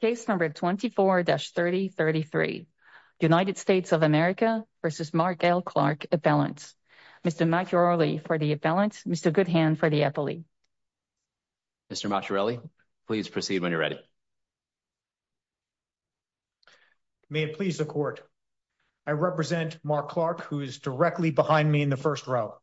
Case number 24-3033. United States of America v. Mark L. Clark Appellant. Mr. Macchiarelli for the Appellant. Mr. Goodhand for the Appellant. Mr. Macchiarelli, please proceed when you're ready. May it please the Court. I represent Mark Clark, who is directly behind me in the first row.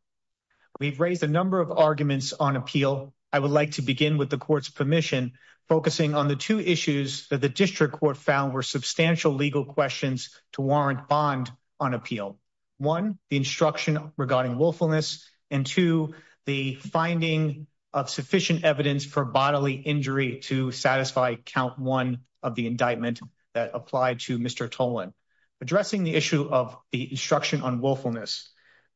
We've raised a number of arguments on appeal. I would like to begin with the Court's permission, focusing on the two issues that the District Court found were substantial legal questions to warrant bond on appeal. One, the instruction regarding willfulness, and two, the finding of sufficient evidence for bodily injury to satisfy count one of the indictment that applied to Mr. Tolan. Addressing the issue of the instruction on willfulness,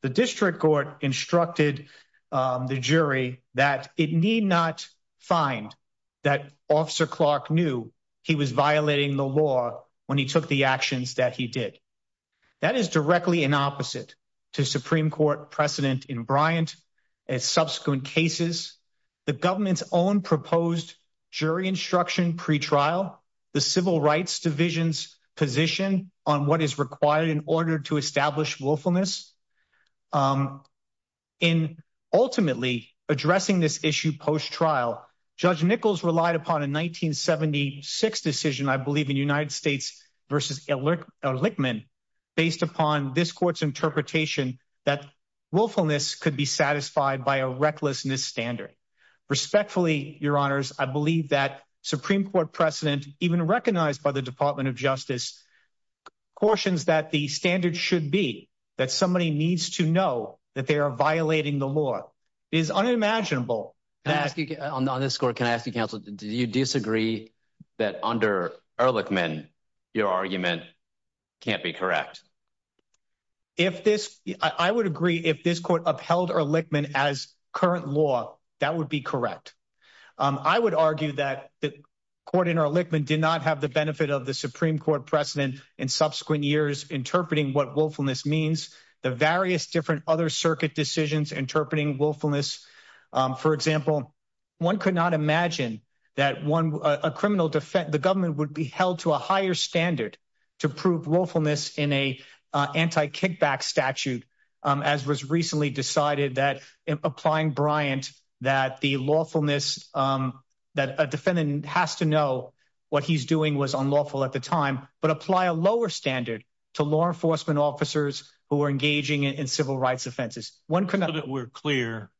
the District Court instructed the jury that it need not find that Officer Clark knew he was violating the law when he took the actions that he did. That is directly an opposite to Supreme Court precedent in Bryant and subsequent cases, the government's own proposed jury instruction pretrial, the Civil Rights Division's position on what is required in order to establish willfulness. In ultimately addressing this issue post trial, Judge Nichols relied upon a 1976 decision, I believe in United States v. Elickman, based upon this Court's interpretation that willfulness could be satisfied by a recklessness standard. Respectfully, Your Honors, I believe that Supreme Court precedent, even recognized by the Department of Justice, cautions that the standard should be that somebody needs to know that they are violating the law is unimaginable. Can I ask you on this court? Can I ask you, Counsel, do you disagree that under Ehrlichman, your argument can't be correct? If this I would agree if this court upheld Ehrlichman as current law, that would be correct. I would argue that the court in Ehrlichman did not have the benefit of the Supreme Court precedent in subsequent years interpreting what willfulness means the various different other circuit decisions interpreting willfulness. For example, one could not imagine that one a criminal defense, the government would be held to a higher standard to prove willfulness in a anti kickback statute, as was recently decided that applying Bryant that the lawfulness, um, that a defendant has to know what he's doing was unlawful at the time, but apply a lower standard to law enforcement officers who are engaging in civil rights offenses. One could know that we're clear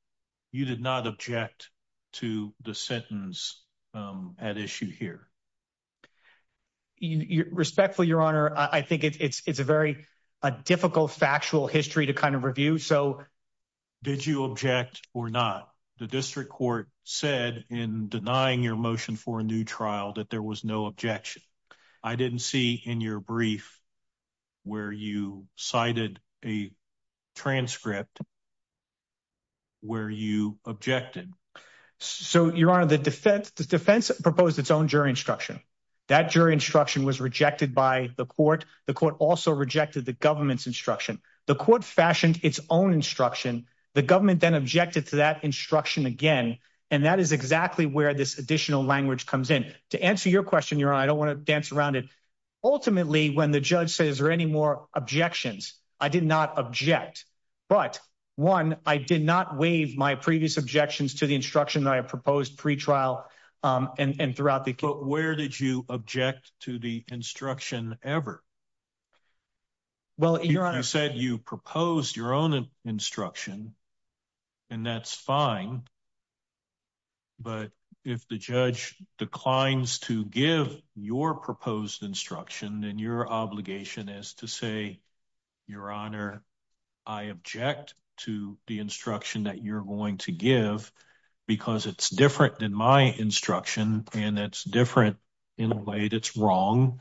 you did not object to the sentence at issue here. You respectfully, Your Honor, I think it's a very difficult factual history to kind of review. So did you object or not? The district court said in denying your motion for a new trial that there was no objection. I didn't see in your brief where you cited a transcript where you objected. So, Your Honor, the defense defense proposed its own jury instruction. That jury instruction was rejected by the court. The court also rejected the government's instruction. The court fashioned its own instruction. The government then objected to that instruction again, and that is exactly where this additional language comes in. To answer your question, Your Honor, I don't want to dance around it. Ultimately, when the judge says there any more objections, I did not object. But one, I did not waive my previous objections to the instruction that I proposed pre trial. Um, and throughout the court, where did you object to the instruction ever? Well, you're on. I said you proposed your own instruction, and that's fine. But if the judge declines to give your proposed instruction, then your obligation is to say, Your Honor, I object to the instruction that you're to give because it's different than my instruction, and it's different in a way that's wrong,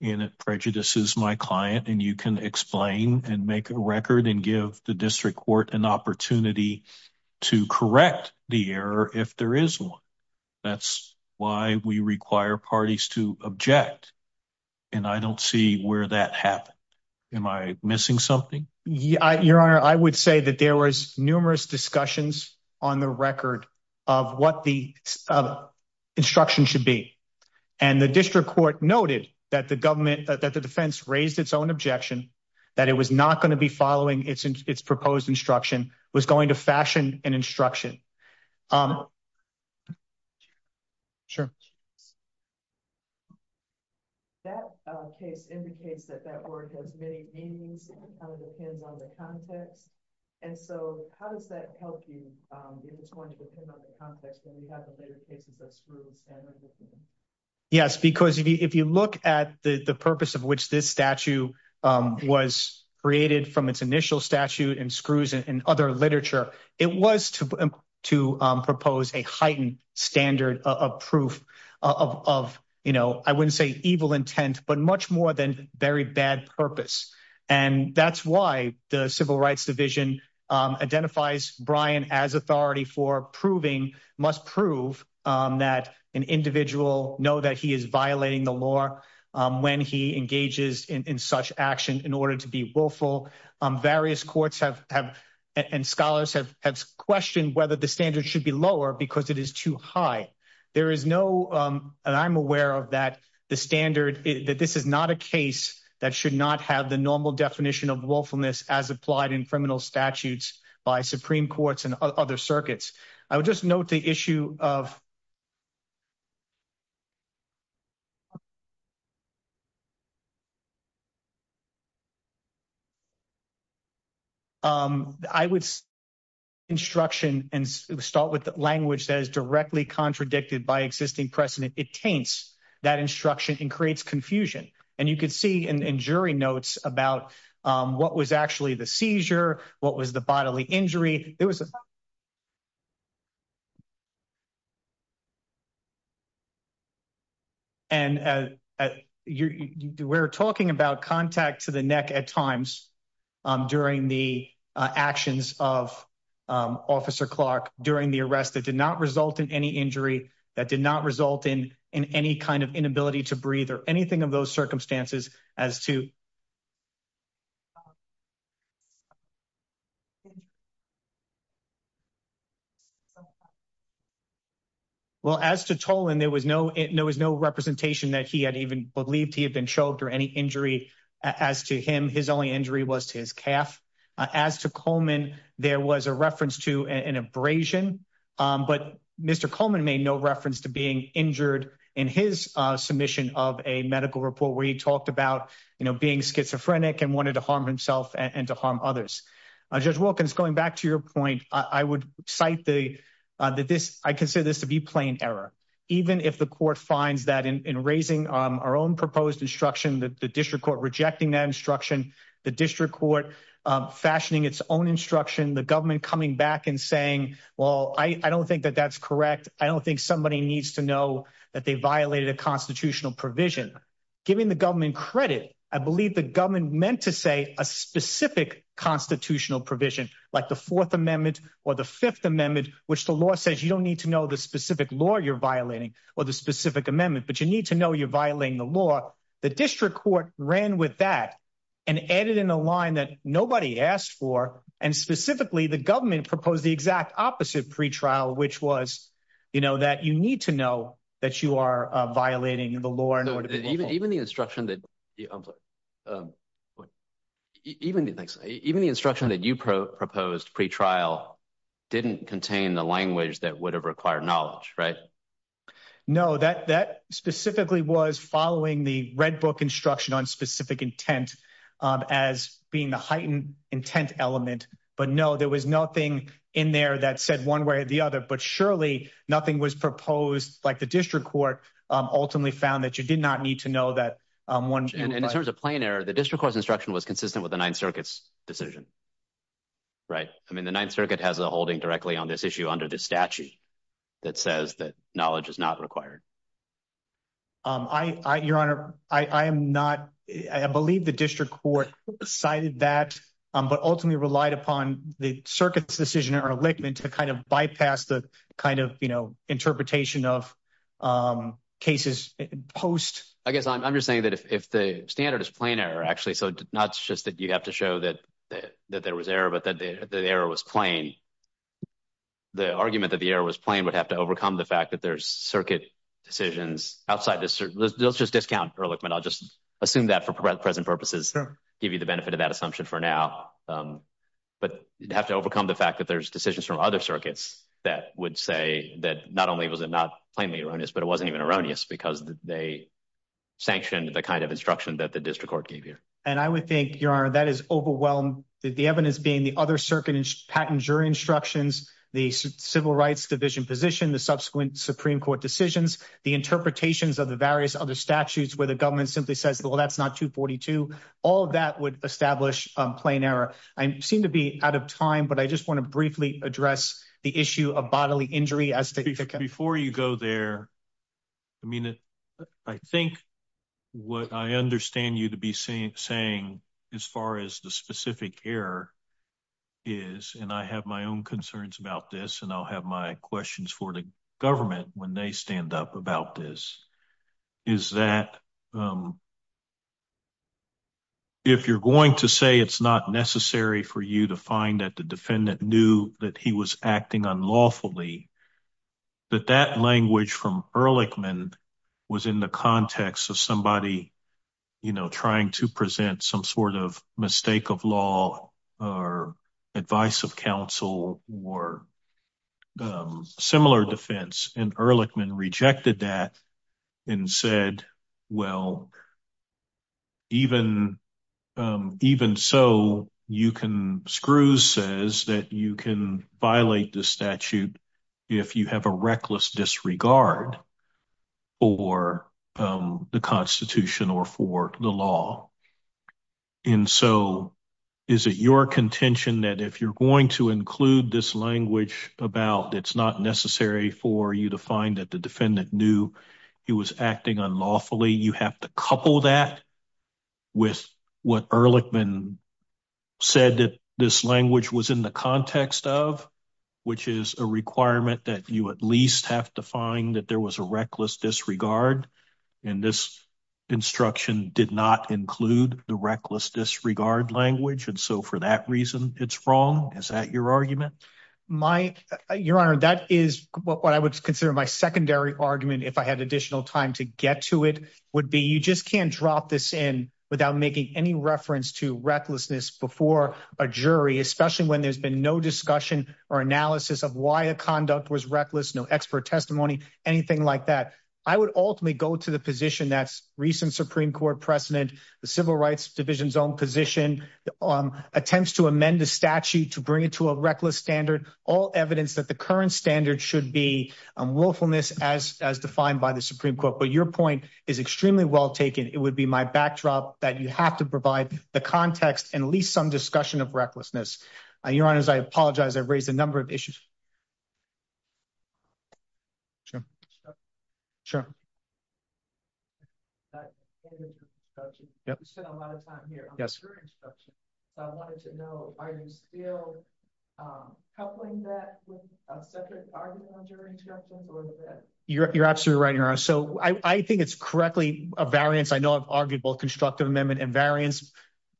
and it prejudices my client. And you can explain and make a record and give the district court an opportunity to correct the error if there is one. That's why we require parties to object, and I don't see where that happened. Am I missing something? Your Honor, I would say that there was numerous discussions on the record of what the instruction should be, and the district court noted that the government that the defense raised its own objection that it was not going to be following its its proposed instruction was going to fashion an instruction. Um, sure. That case indicates that that word has many meanings and kind of depends on the context. And so how does that help you? Um, it's going to depend on the context when you have the later cases of screws. Yes, because if you look at the purpose of which this statue was created from its initial statute and screws and other literature, it was to to propose a heightened standard of proof of, you know, I wouldn't say evil intent, but much more than very bad purpose. And that's why the Civil Rights Division identifies Brian as authority for proving must prove that an individual know that he is violating the law when he engages in such action in order to be willful. Various courts have and scholars have questioned whether the standard should be lower because it is too high. There is no, and I'm aware of that the standard that this is not a case that should not have the normal definition of willfulness as applied in criminal statutes by Supreme courts and other circuits. I would just note the issue of um, I would instruction and start with language that is directly contradicted by existing precedent. It taints that instruction and creates confusion. And you could see in jury notes about what was actually the seizure. What was the bodily injury? It was and, uh, you were talking about contact to the neck at times during the actions of Officer Clark during the arrest that did not result in any injury that did not result in in any kind of inability to breathe or anything of those circumstances as to uh, thank you. So well, as to toll and there was no, there was no representation that he had even believed he had been choked or any injury as to him. His only injury was to his calf. As to Coleman, there was a reference to an abrasion. Um, but Mr Coleman made no reference to being injured in his submission of a medical report where he talked about, you know, being schizophrenic and wanted to harm himself and to harm others. Judge Wilkins, going back to your point, I would cite the, uh, that this I consider this to be plain error. Even if the court finds that in raising our own proposed instruction, the district court rejecting that instruction, the district court fashioning its own instruction, the government coming back and saying, well, I don't think that that's correct. I don't think somebody needs to know that they violated a constitutional provision. Giving the government credit. I believe the government meant to say a specific constitutional provision like the Fourth Amendment or the Fifth Amendment, which the law says you don't need to know the specific law you're violating or the specific amendment, but you need to know you're violating the law. The district court ran with that and added in a line that nobody asked for. And specifically, the government proposed the exact opposite pretrial, which was, you know, that you need to know that you are violating the law. And even even the instruction that, um, even thanks. Even the instruction that you proposed pretrial didn't contain the language that would have required knowledge, right? No, that that specifically was following the Red Book instruction on specific intent as being the heightened intent element. But no, there was nothing in there that said one way or the other. But surely nothing was proposed like the district court ultimately found that you did not need to know that one in terms of plain error. The district was instruction was consistent with the Ninth Circuit's decision, right? I mean, the Ninth Circuit has a holding directly on this issue under this statute that says that knowledge is not required. I, Your Honor, I am not. I believe the district court cited that, but ultimately relied upon the circuit's decision or a lich man to kind of bypass the kind of, you know, interpretation of, um, cases post. I think if the standard is plain error, actually, so not just that you have to show that that there was error, but that the error was plain. The argument that the air was playing would have to overcome the fact that there's circuit decisions outside this. Let's just discount. Ehrlichman, I'll just assume that for present purposes give you the benefit of that assumption for now. Um, but you have to overcome the fact that there's decisions from other circuits that would say that not only was it not plainly erroneous, but it wasn't even erroneous because they sanctioned the kind of instruction that the district court gave you. And I would think you are. That is overwhelmed. The evidence being the other circuit and patent jury instructions, the Civil Rights Division position, the subsequent Supreme Court decisions, the interpretations of the various other statutes where the government simply says, Well, that's not 2 42. All that would establish plain error. I seem to be out of time, but I just want to briefly address the issue of bodily injury as before you go there. I mean, I think what I understand you to be saying as far as the specific air is, and I have my own concerns about this, and I'll have my questions for the government when they stand up about this is that, um, if you're going to say it's not necessary for you to find that the defendant knew that he was acting unlawfully, that that language from Ehrlichman was in the context of somebody, you know, trying to present some sort of mistake of law or advice of counsel or, um, similar defense. And you can violate the statute if you have a reckless disregard or, um, the Constitution or for the law. And so is it your contention that if you're going to include this language about it's not necessary for you to find that the defendant knew he was acting unlawfully, you have to couple that with what Ehrlichman said that this language was in the context of, which is a requirement that you at least have to find that there was a reckless disregard. And this instruction did not include the reckless disregard language. And so for that reason, it's wrong. Is that your argument? My Your Honor, that is what I would consider my secondary argument. If I had additional time to get to it would be. You just can't drop this in without making any reference to recklessness before a jury, especially when there's been no discussion or analysis of why a conduct was reckless, no expert testimony, anything like that. I would ultimately go to the position that's recent Supreme Court precedent. The Civil Rights Division's own position, um, attempts to amend the statute to bring it to a reckless standard. All evidence that the current standard should be on willfulness as as defined by the Supreme Court. But your point is extremely well taken. It would be my backdrop that you have to provide the context and at least some discussion of recklessness. Your Honor's. I apologize. I raised a number of issues. Sure, sure. That you spent a lot of time here. Yes. I wanted to know, are you still coupling that with a separate argument on jury instructions? You're absolutely right, Your Honor. So I think it's correctly a variance. I know of arguable constructive amendment and variance.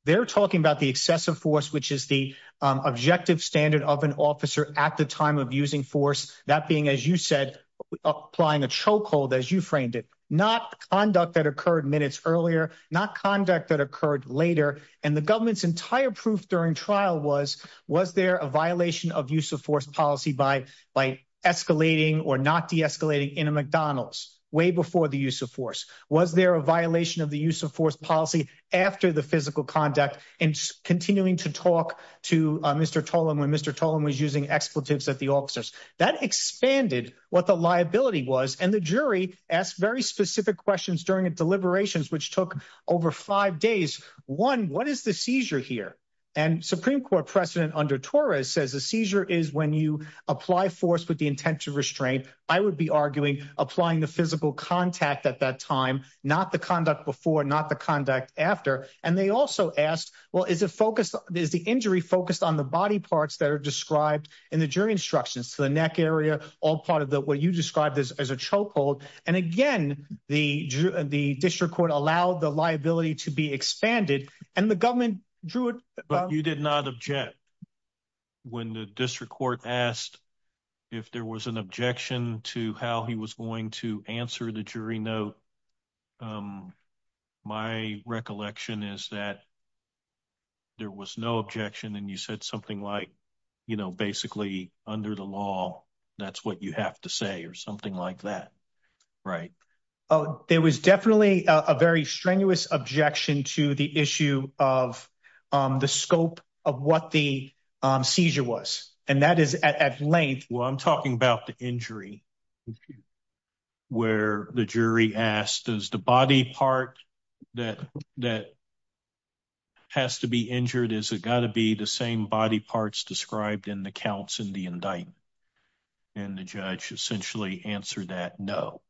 They're talking about the excessive force, which is the objective standard of an officer at the time of using force. That being, as you said, applying a chokehold as you framed it, not conduct that occurred minutes earlier, not conduct that occurred later. And the government's entire proof during trial was was there a violation of use of force policy by by escalating or not de escalating in a McDonald's way before the use of force? Was there a violation of the use of force policy after the physical conduct and continuing to talk to Mr Tolan when Mr Tolan was using expletives at the officers that expanded what the liability was. And the jury asked very specific questions during a deliberations, which took over five days. One. What is the seizure here? And Supreme Court precedent under Torres says the seizure is when you apply force with the intent to restrain. I would be arguing applying the physical contact at that time, not the conduct before, not the conduct after. And they also asked, Well, is it focused? Is the injury focused on the body parts that are described in the jury instructions to the neck area? All part of the what you described as a chokehold. And again, the the district court allowed the liability to be expanded, and the government drew it. But you did not object when the district court asked if there was an objection to how he was going to answer the jury note. Um, my recollection is that there was no objection. And you said something like, you know, basically under the law, that's what you have to say or something like that, right? Oh, it was definitely a very strenuous objection to the issue of the scope of what the seizure was. And that is at length. Well, I'm talking about the where the jury asked is the body part that that has to be injured. Is it gotta be the same body parts described in the counts in the indictment? And the judge essentially answered that no.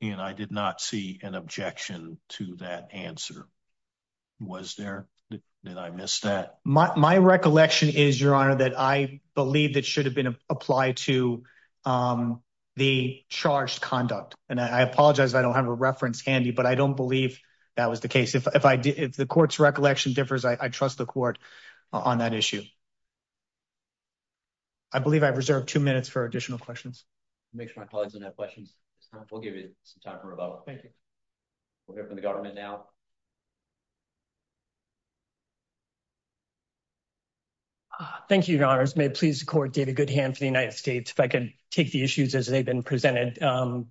And I did not see an objection to that answer was there. Did I miss that? My recollection is, Your Honor, that I believe that should have been applied to, um, the charged conduct. And I apologize. I don't have a reference handy, but I don't believe that was the case. If I did, if the court's recollection differs, I trust the court on that issue. I believe I've reserved two minutes for additional questions. Make sure my questions. We'll give you some time for rebuttal. Thank you. We'll hear from the government now. Thank you, Your Honors. May please court did a good hand for the United States if I could take the issues as they've been presented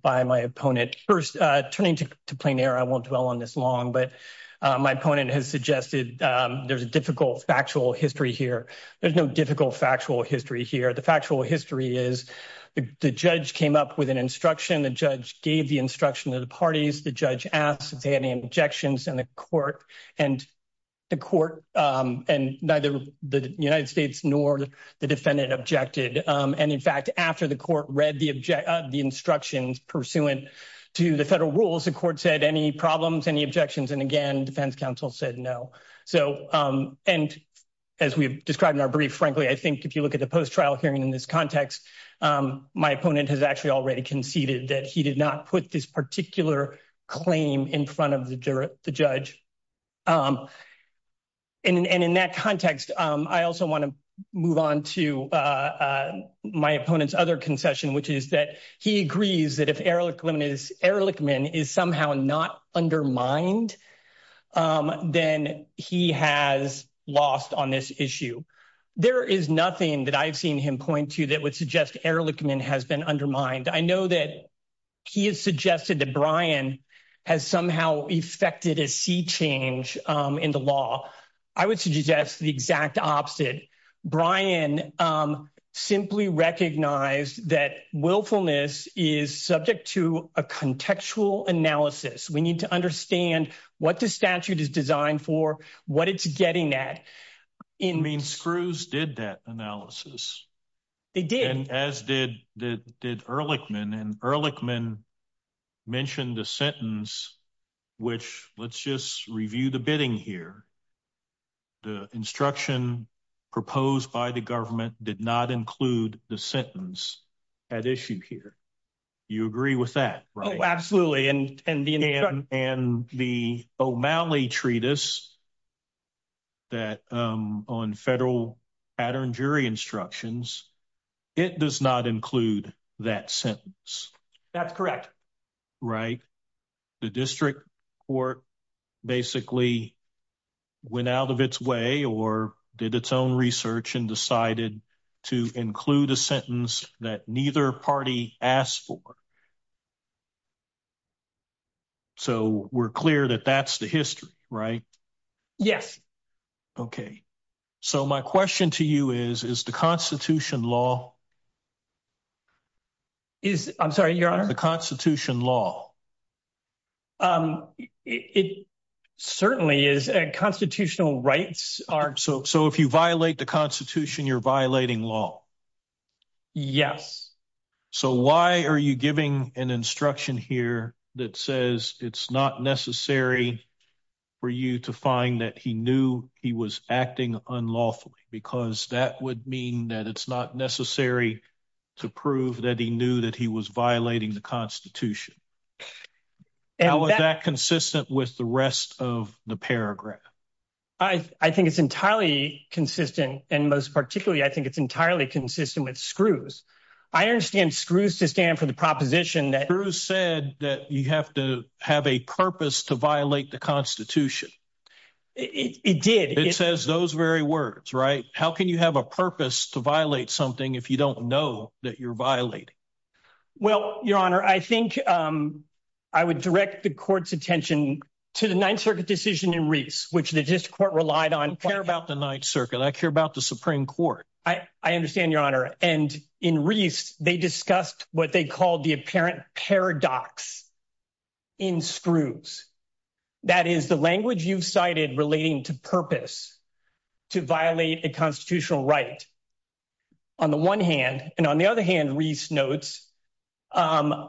by my opponent first turning to plain air. I won't dwell on this long, but my opponent has suggested there's a difficult factual history here. There's no difficult factual history here. The factual history is the judge came up with an instruction. The judge gave the instruction of the parties. The judge asked any objections in the court and the court and neither the United States nor the defendant objected. And, in fact, after the court read the object of the instructions pursuant to the federal rules, the court said any problems, any objections and again, defense counsel said no. So, um, and as we've described in our brief, frankly, I think if you look at the post trial hearing in this context, um, my opponent has actually already conceded that he did not put this particular claim in front of the juror, the judge. Um, and in that context, I also want to move on to, uh, my opponent's other concession, which is that he agrees that if Erlichman is somehow not undermined, um, then he has lost on this issue. There is nothing that I've seen him point to that would suggest Erlichman has been undermined. I know that he has suggested that Brian has somehow effected a sea change in the law. I would suggest the exact opposite. Brian, um, simply recognized that willfulness is subject to a contextual analysis. We need to understand what the statute is designed for, what it's getting that in mean screws did that analysis. They did, as did did did Erlichman and Erlichman mentioned the sentence, which let's just review the bidding here. The instruction proposed by the government did not include the sentence at issue here. You agree with that? Absolutely. And and the and the O'Malley treatise that on federal pattern jury instructions, it does not include that sentence. That's correct, right? The district or basically went out of its way or did its own research and decided to include a sentence that neither party asked for. So we're clear that that's the history, right? Yes. Okay. So my question to you is, is the Constitution law is I'm sorry. You're on the Constitution law. Um, it certainly is. Constitutional rights are so. So if you violate the Constitution, you're violating law. Yes. So why are you giving an instruction here that says it's not necessary for you to find that he knew he was acting unlawfully? Because that would mean that it's not necessary to prove that he knew that he was violating the Constitution. How is that consistent with the rest of the paragraph? I think it's entirely consistent, and most particularly, I think it's entirely consistent with screws. I understand screws to stand for the proposition that Bruce said that you have to have a purpose to violate the Constitution. It did. It says those very words, right? How can you have a purpose to violate something if you don't know that you're violating? Well, Your Honor, I think, um, I would direct the court's attention to the Ninth Circuit decision in Reese, which the district court relied on care about the Ninth Circuit. I care about the Supreme Court. I understand, Your Honor. And in Reese, they discussed what they called the apparent paradox in screws. That is the language you've cited relating to purpose to violate a constitutional right on the one hand. And on the other hand, Reese notes, um,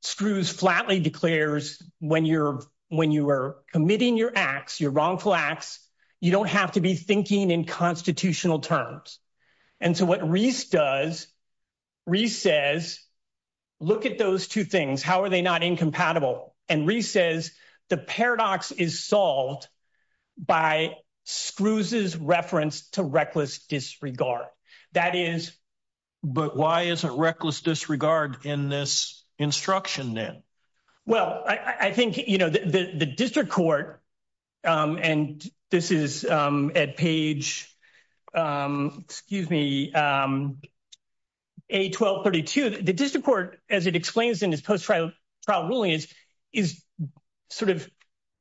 screws flatly declares when you're when you were committing your acts, you're wrongful acts. You don't have to be thinking in constitutional terms. And so what Reese does, Reese says, Look at those two things. How are they not incompatible? And Reese says the paradox is solved by screws is referenced to reckless disregard. That is. But why is it reckless disregard in this instruction? Then? Well, I think you know, the district court, um, and this is, um, at page, um, excuse me, um, a 12 32. The district court, as it explains in his post trial trial ruling is, is sort of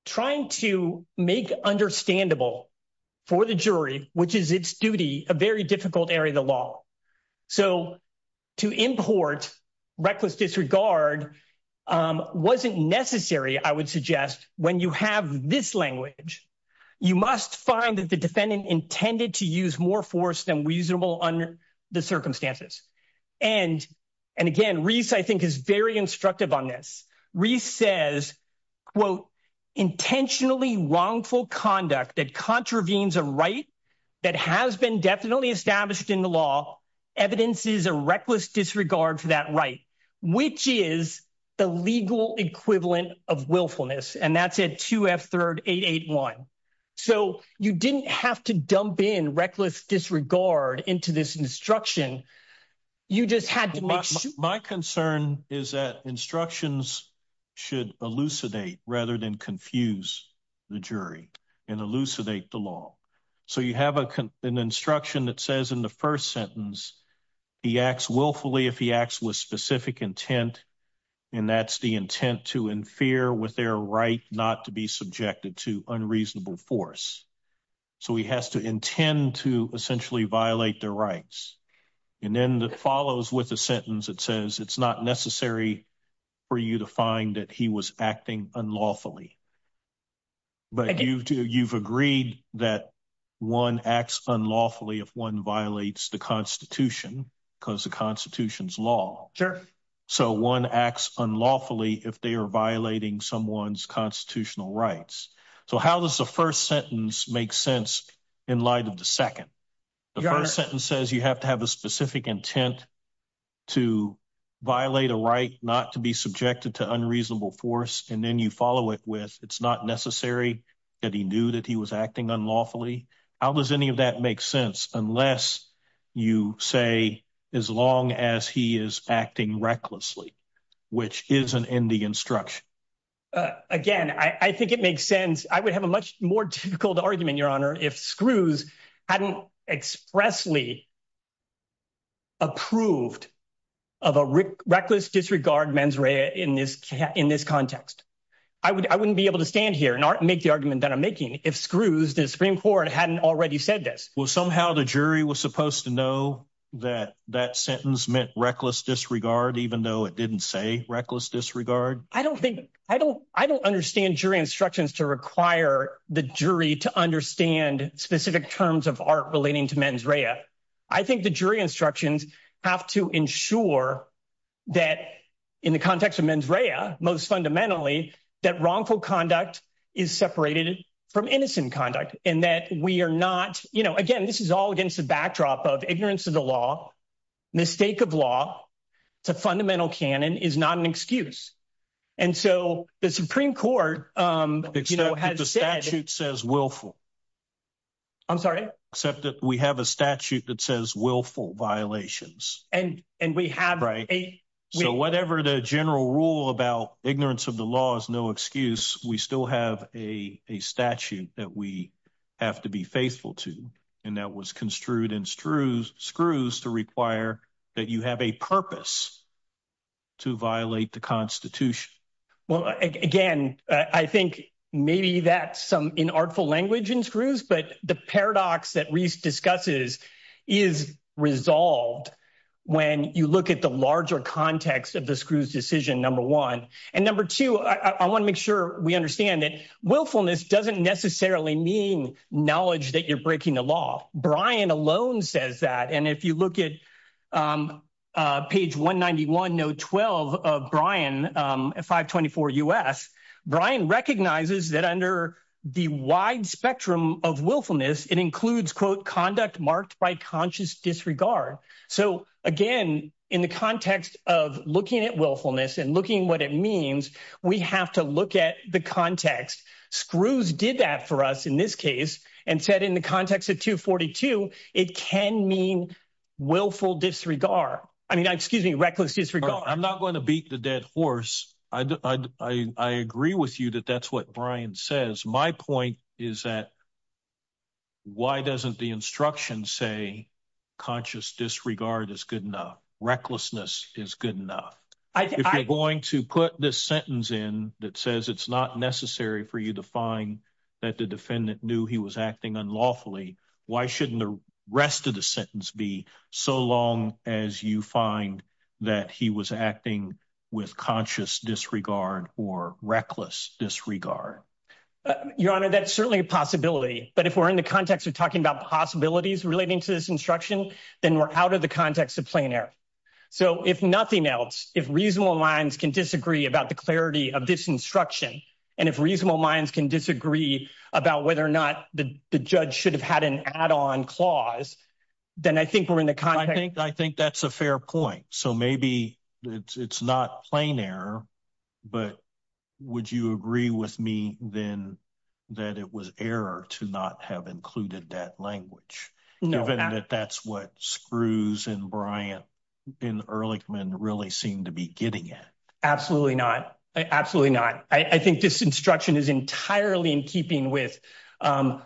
trying to make understandable for the jury, which is its duty, a very difficult area of the law. So to import reckless disregard, um, wasn't necessary. I would suggest when you have this language, you must find that the defendant intended to use more force than reasonable under the circumstances. And and again, Reese, I think, is very instructive on this. Reese says, quote, intentionally wrongful conduct that contravenes a right that has been definitely established in the law. Evidence is a disregard for that right, which is the legal equivalent of willfulness. And that's it. Two F. Third 881. So you didn't have to dump in reckless disregard into this instruction. You just had to make my concern is that instructions should elucidate rather than confuse the jury and elucidate the law. So you have a an instruction that says in the first sentence he acts willfully if he acts with specific intent, and that's the intent to in fear with their right not to be subjected to unreasonable force. So he has to intend to essentially violate their rights. And then that follows with a sentence that says it's not necessary for you to find that he was acting unlawfully. But you've you've agreed that one acts unlawfully if one violates the Constitution because the Constitution's law. Sure. So one acts unlawfully if they're violating someone's constitutional rights. So how does the first sentence make sense in light of the second? The first sentence says you have to have a specific intent to violate a right not to be subjected to unreasonable force, and then you follow it with. It's not necessary that he knew that he was acting unlawfully. How does any of that make sense? Unless you say as long as he is acting recklessly, which isn't in the instruction again, I think it makes sense. I would have a much more difficult argument, Your Honor. If screws hadn't expressly approved of a reckless disregard mens rea in this in this context, I wouldn't be able to stand here and make the argument that I'm making. If screws, the Supreme Court hadn't already said this was somehow the jury was supposed to know that that sentence meant reckless disregard, even though it didn't say reckless disregard. I don't think I don't. I don't understand jury instructions to require the jury to understand specific terms of art relating to mens rea. I think the jury instructions have to ensure that in the sex of mens rea, most fundamentally, that wrongful conduct is separated from innocent conduct and that we are not, you know, again, this is all against the backdrop of ignorance of the law. Mistake of law. It's a fundamental canon is not an excuse. And so the Supreme Court, um, you know, has the statute says willful. I'm sorry, except that we have a statute that says willful violations and and we right. So whatever the general rule about ignorance of the law is no excuse. We still have a statute that we have to be faithful to, and that was construed in screws screws to require that you have a purpose to violate the Constitution. Well, again, I think maybe that's some in artful language in screws, but the paradox that Reese discusses is resolved when you look at the larger context of the screws decision number one and number two. I want to make sure we understand that willfulness doesn't necessarily mean knowledge that you're breaking the law. Brian alone says that. And if you look at, um, page 1 91 no 12 of Brian 5 24 U. S. Brian recognizes that under the wide spectrum of willfulness, it includes quote conduct marked by conscious disregard. So again, in the context of looking at willfulness and looking what it means, we have to look at the context. Screws did that for us in this case and said in the context of 2 42 it can mean willful disregard. I mean, excuse me, reckless disregard. I'm not going to beat the dead horse. I is that why doesn't the instruction say conscious disregard is good enough? Recklessness is good enough. I'm going to put this sentence in that says it's not necessary for you to find that the defendant knew he was acting unlawfully. Why shouldn't the rest of the sentence be so long as you find that he was acting with conscious disregard or reckless disregard? Your Honor, that certainly a possibility. But if we're in the context of talking about possibilities relating to this instruction, then we're out of the context of plain air. So if nothing else, if reasonable minds can disagree about the clarity of this instruction, and if reasonable minds can disagree about whether or not the judge should have had an add on clause, then I think we're in the country. I think that's a fair point. So maybe it's not plain error. But would you agree with me then that it was error to not have included that language, given that that's what screws and Bryant in Ehrlichman really seemed to be getting it? Absolutely not. Absolutely not. I think this instruction is entirely in keeping with, um,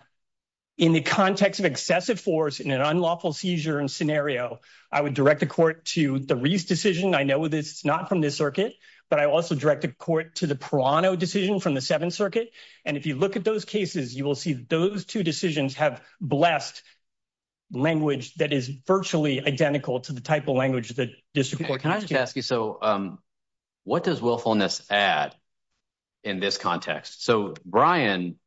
in the context of excessive force in an unlawful seizure and scenario, I would direct the court to the Reese decision. I know this is not from this circuit, but I also directed court to the Prano decision from the Seventh Circuit. And if you look at those cases, you will see those two decisions have blessed language that is virtually identical to the type of language that district court can ask you. So, um, what does willfulness add in this context? So, Brian,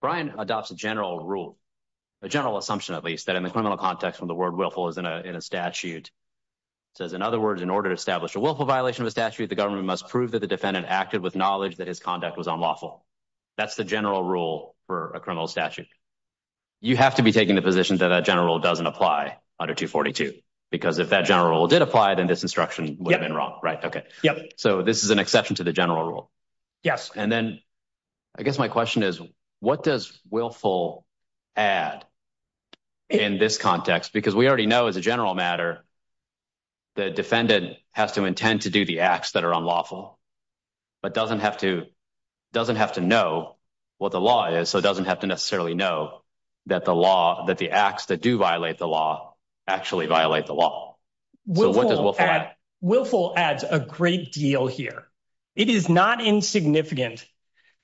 Brian adopts a general rule, a general assumption, at least that in the criminal context from the word willful is in a statute says, in other words, in order to establish a willful violation of a statute, the government must prove that the defendant acted with knowledge that his conduct was unlawful. That's the general rule for a criminal statute. You have to be taking the position that a general doesn't apply under 2 42 because if that general did apply, then this instruction would have been wrong, right? Okay, so this is an exception to the general rule. Yes. And then I guess my question is, what does willful add in this context? Because we already know, as a general matter, the defendant has to intend to do the acts that are unlawful, but doesn't have to doesn't have to know what the law is. So it doesn't have to necessarily know that the law that the acts that do violate the law actually violate the law. So what does willful add? Willful adds a great deal here. It is not insignificant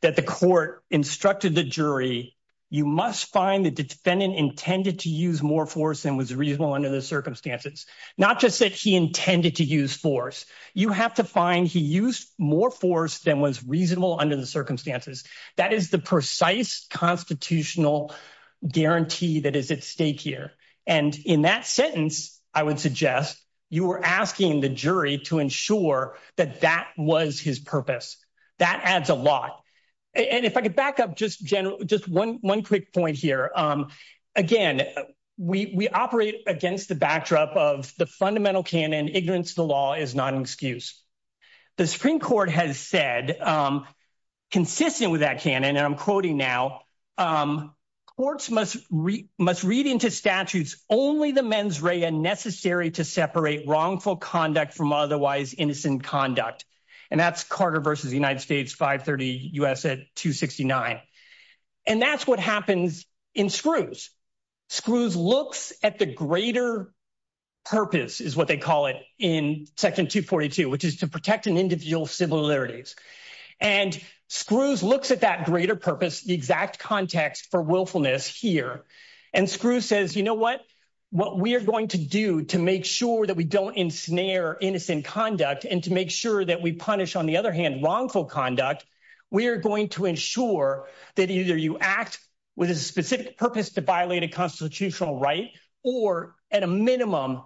that the court instructed the jury. You must find the defendant intended to use more force than was reasonable under the circumstances. Not just that he intended to use force. You have to find he used more force than was reasonable under the circumstances. That is the precise constitutional guarantee that is at stake here. And in that sentence, I would suggest you were asking the jury to ensure that that was his purpose. That adds a lot. And if I could back up just general, just one quick point here. Again, we operate against the backdrop of the fundamental canon. Ignorance of the law is not an excuse. The Supreme Court has said, consistent with that canon, and I'm quoting now, courts must read into statutes only the mens rea necessary to separate wrongful conduct from otherwise innocent conduct. And that's Carter versus the United States, 530 U.S. at 269. And that's what happens in screws. Screws looks at the greater purpose is what they call it in section 242, which is to protect an individual similarities. And screws looks at that greater purpose, the exact context for willfulness here. And screw says, you know what? What we're going to do to make sure that we don't ensnare innocent conduct and to make sure that we punish, on the other hand, wrongful conduct, we are going to ensure that either you act with a specific purpose to violate a constitutional right, or at a minimum,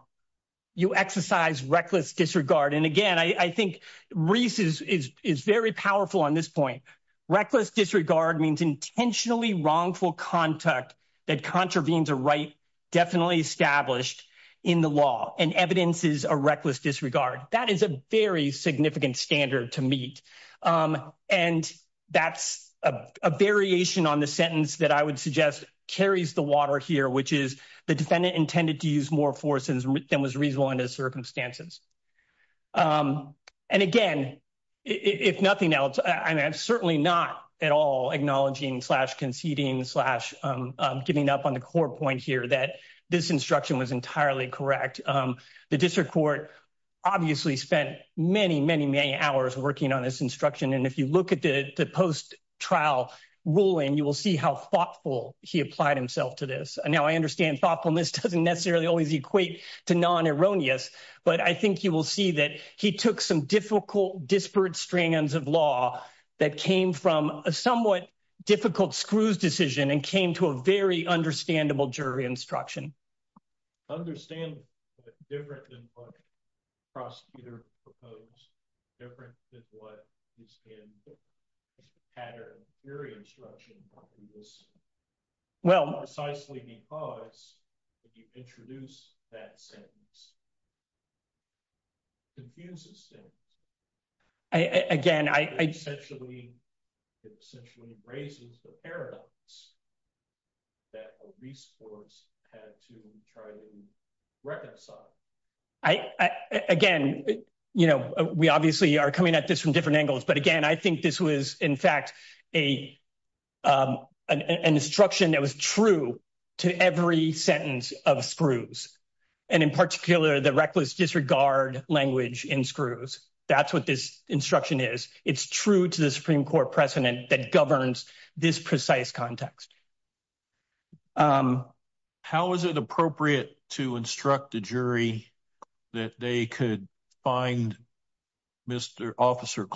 you exercise reckless disregard. And again, I think Reese is very powerful on this point. Reckless disregard means intentionally wrongful conduct that contravenes a right definitely established in the law and evidences a reckless disregard. That is a very significant standard to meet. And that's a variation on the sentence that I would suggest carries the water here, which is the defendant intended to use more force than was reasonable under circumstances. And again, if nothing else, I'm certainly not at all acknowledging slash conceding slash giving up on the core point here that this instruction was entirely correct. The district court obviously spent many, many, many hours working on this instruction. And if you look at the post trial ruling, you will see how thoughtful he applied himself to this. And now I understand thoughtfulness doesn't necessarily always equate to non erroneous. But I think you will see that he took some difficult disparate strands of law that came from a somewhat difficult screws decision and came to a very understandable jury instruction. Understand different than prosecutor proposed different than what is in pattern. Your instruction is well, precisely because if you introduce that sentence, it confuses things. Again, I essentially, it essentially raises the paradox that a resource had to try to reconcile. I, again, you know, we obviously are coming at this from different angles. But again, I think this was, in fact, a, an instruction that was true to every sentence of screws. And in particular, the reckless disregard language in screws. That's what this instruction is. It's true to the Supreme Court precedent that governs this precise context. How is it appropriate to instruct the jury that they could find Mr. Officer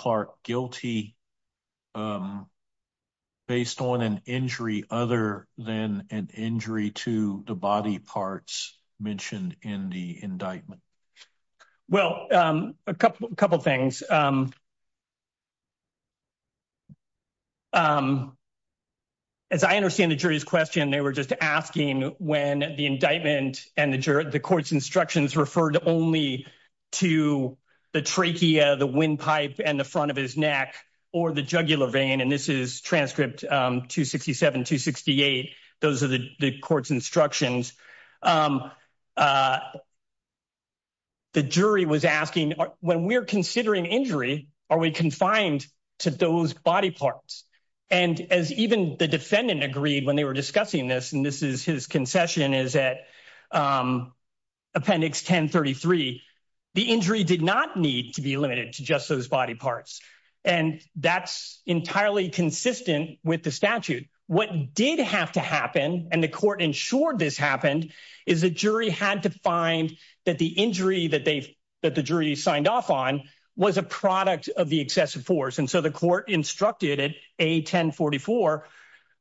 body parts mentioned in the indictment? Well, a couple of couple of things. As I understand the jury's question, they were just asking when the indictment and the jury, the court's instructions referred only to the trachea, the windpipe and the front of his neck or the jugular vein. And this is transcript 267 to 68. Those are the court's instructions. The jury was asking when we're considering injury, are we confined to those body parts? And as even the defendant agreed when they were discussing this, and this is his concession, is that Appendix 1033, the injury did not need to be limited to just those body parts. And that's entirely consistent with the statute. What did have to happen? And the court ensured this happened is the jury had to find that the injury that they that the jury signed off on was a product of the excessive force. And so the court instructed it a 1044.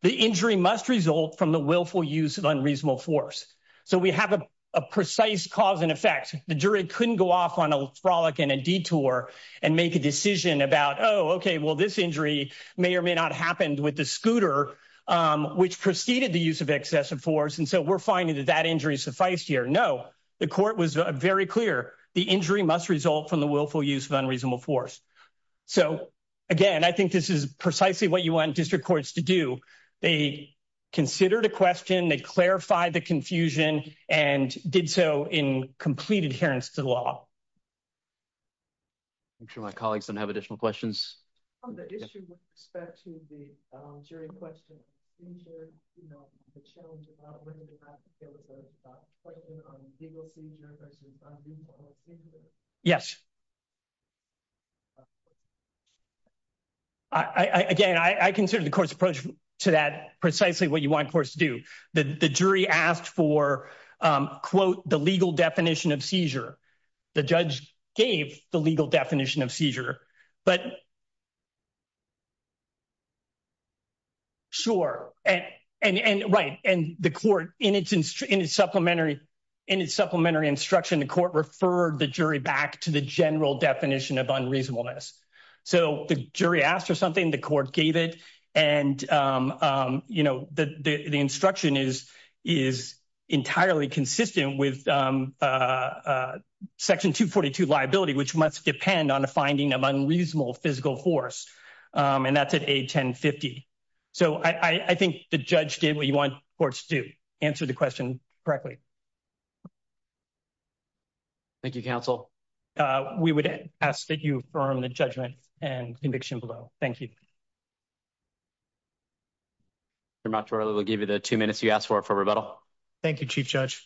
The injury must result from the willful use of unreasonable force. So we have a precise cause and effect. The jury couldn't go off on a frolic and a detour and make a decision about, oh, OK, well, this injury may or may not happened with the scooter, which preceded the use of excessive force. And so we're finding that that injury sufficed here. No, the court was very clear. The injury must result from the willful use of unreasonable force. So, again, I think this is precisely what you want district courts to do. They considered a question. They clarified the confusion and did so in complete adherence to the law. I'm sure my colleagues don't have additional questions on the issue with respect to the jury question, you know, the challenge about whether or not there was a question on legal seizure versus on legal injury. Yes. Again, I consider the court's approach to that precisely what you want courts to do. The jury asked for, quote, the legal definition of seizure, the judge gave the legal definition of seizure. But. Sure. And right. And the court in its in its supplementary in its supplementary instruction, the court referred the jury back to the general definition of reasonableness. So the jury asked for something, the court gave it. And, you know, the instruction is is entirely consistent with Section 242 liability, which must depend on a finding of unreasonable physical force. And that's at a ten fifty. So I think the judge did what you want courts to answer the question correctly. Thank you, counsel. We would ask that you affirm the judgment and conviction below. Thank you. I will give you the two minutes you asked for for rebuttal. Thank you, Chief Judge.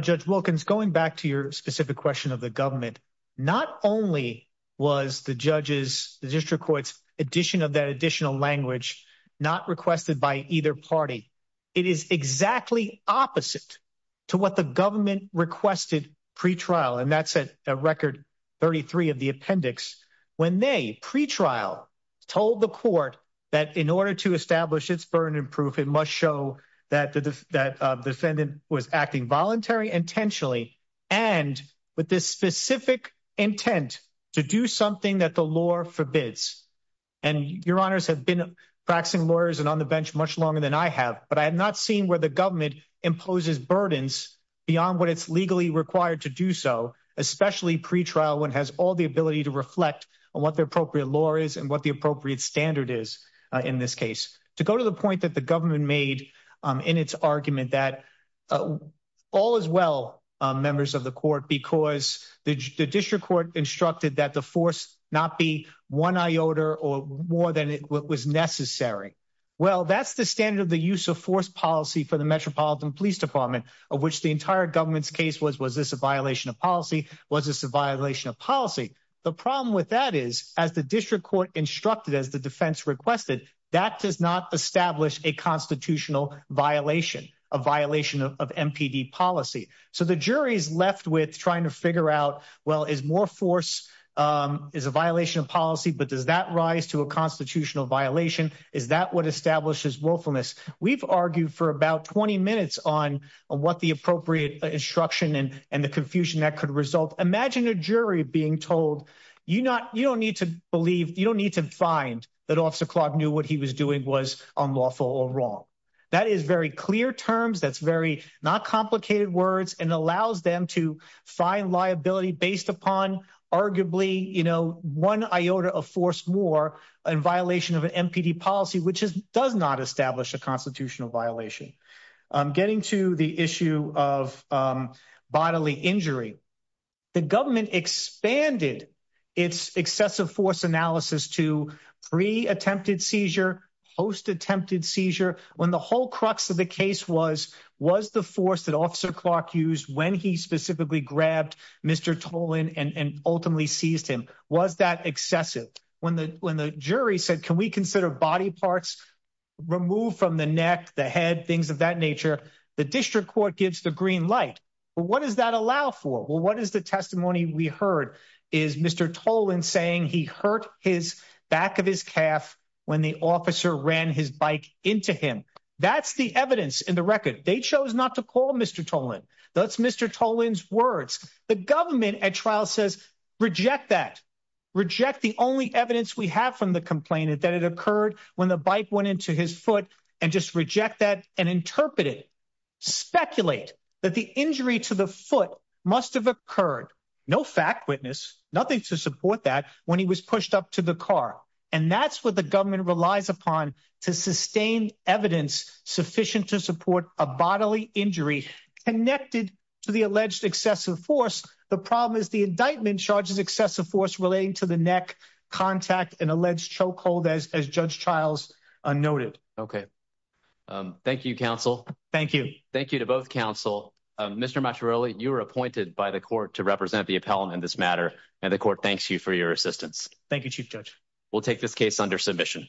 Judge Wilkins, going back to your specific question of the government, not only was the judges, the district courts addition of that additional language not requested by either party. It is exactly opposite to what the government requested pretrial. And that's a record. Thirty three of the appendix when they pretrial told the court that in order to establish its burden and proof, it must show that that defendant was acting voluntary intentionally. And with this specific intent to do something that the law forbids, and your honors have been practicing lawyers and on the bench much longer than I have, but I have not seen where the government imposes burdens beyond what it's legally required to do so, especially pretrial, one has all the ability to reflect on what the appropriate law is and what the appropriate standard is in this case to go to the point that the government made in its argument that all is well. Members of the court, because the district court instructed that the force not be one I order or more than it was necessary. Well, that's the standard of the use of force policy for the Metropolitan Police Department, of which the entire government's case was was this a violation of policy? Was this a violation of policy? The problem with that is, as the district court instructed, as the defense requested, that does not establish a constitutional violation, a violation of MPD policy. So the jury's left with trying to figure out, well, is more force is a violation of policy. But does that rise to a constitutional violation? Is that what establishes willfulness? We've argued for about 20 minutes on what the appropriate instruction and the confusion that could result. Imagine a jury being told, you know, you don't need to believe you don't need to find that officer Clark knew what he was doing was unlawful or wrong. That is very clear terms, that's very not complicated words and allows them to find liability based upon arguably, you know, one I order of force more in violation of an MPD policy, which does not establish a constitutional violation. Getting to the issue of bodily injury, the government expanded its excessive force analysis to free attempted seizure, post attempted seizure when the whole crux of the case was was the force that officer Clark used when he specifically grabbed Mr. Tolan and ultimately seized him. Was that excessive when the when the jury said, can we consider body parts removed from the neck, the head, things of that nature? The district court gives the green light, but what does that allow for? Well, what is the testimony we heard is Mr. Tolan saying he hurt his back of his calf when the officer ran his bike into him. That's the evidence in the record. They chose not to call Mr. Tolan. That's Mr. Tolan's words. The government at trial says reject that, reject the only evidence we have from the complainant that it occurred when the bike went into his foot and just reject that and interpret it. Speculate that the injury to the foot must have occurred no fact witness nothing to support that when he was pushed up to the car. And that's what the government relies upon to sustain evidence sufficient to support a bodily injury connected to the alleged excessive force. The problem is the indictment charges excessive force relating to the neck contact and alleged choke hold as Judge trials are noted. Okay, thank you. Counsel. Thank you. Thank you to both counsel. Mr. Much earlier, you were appointed by the court to represent the appellant in this matter, and the court thanks you for your assistance. Thank you. Chief judge. We'll take this case under submission.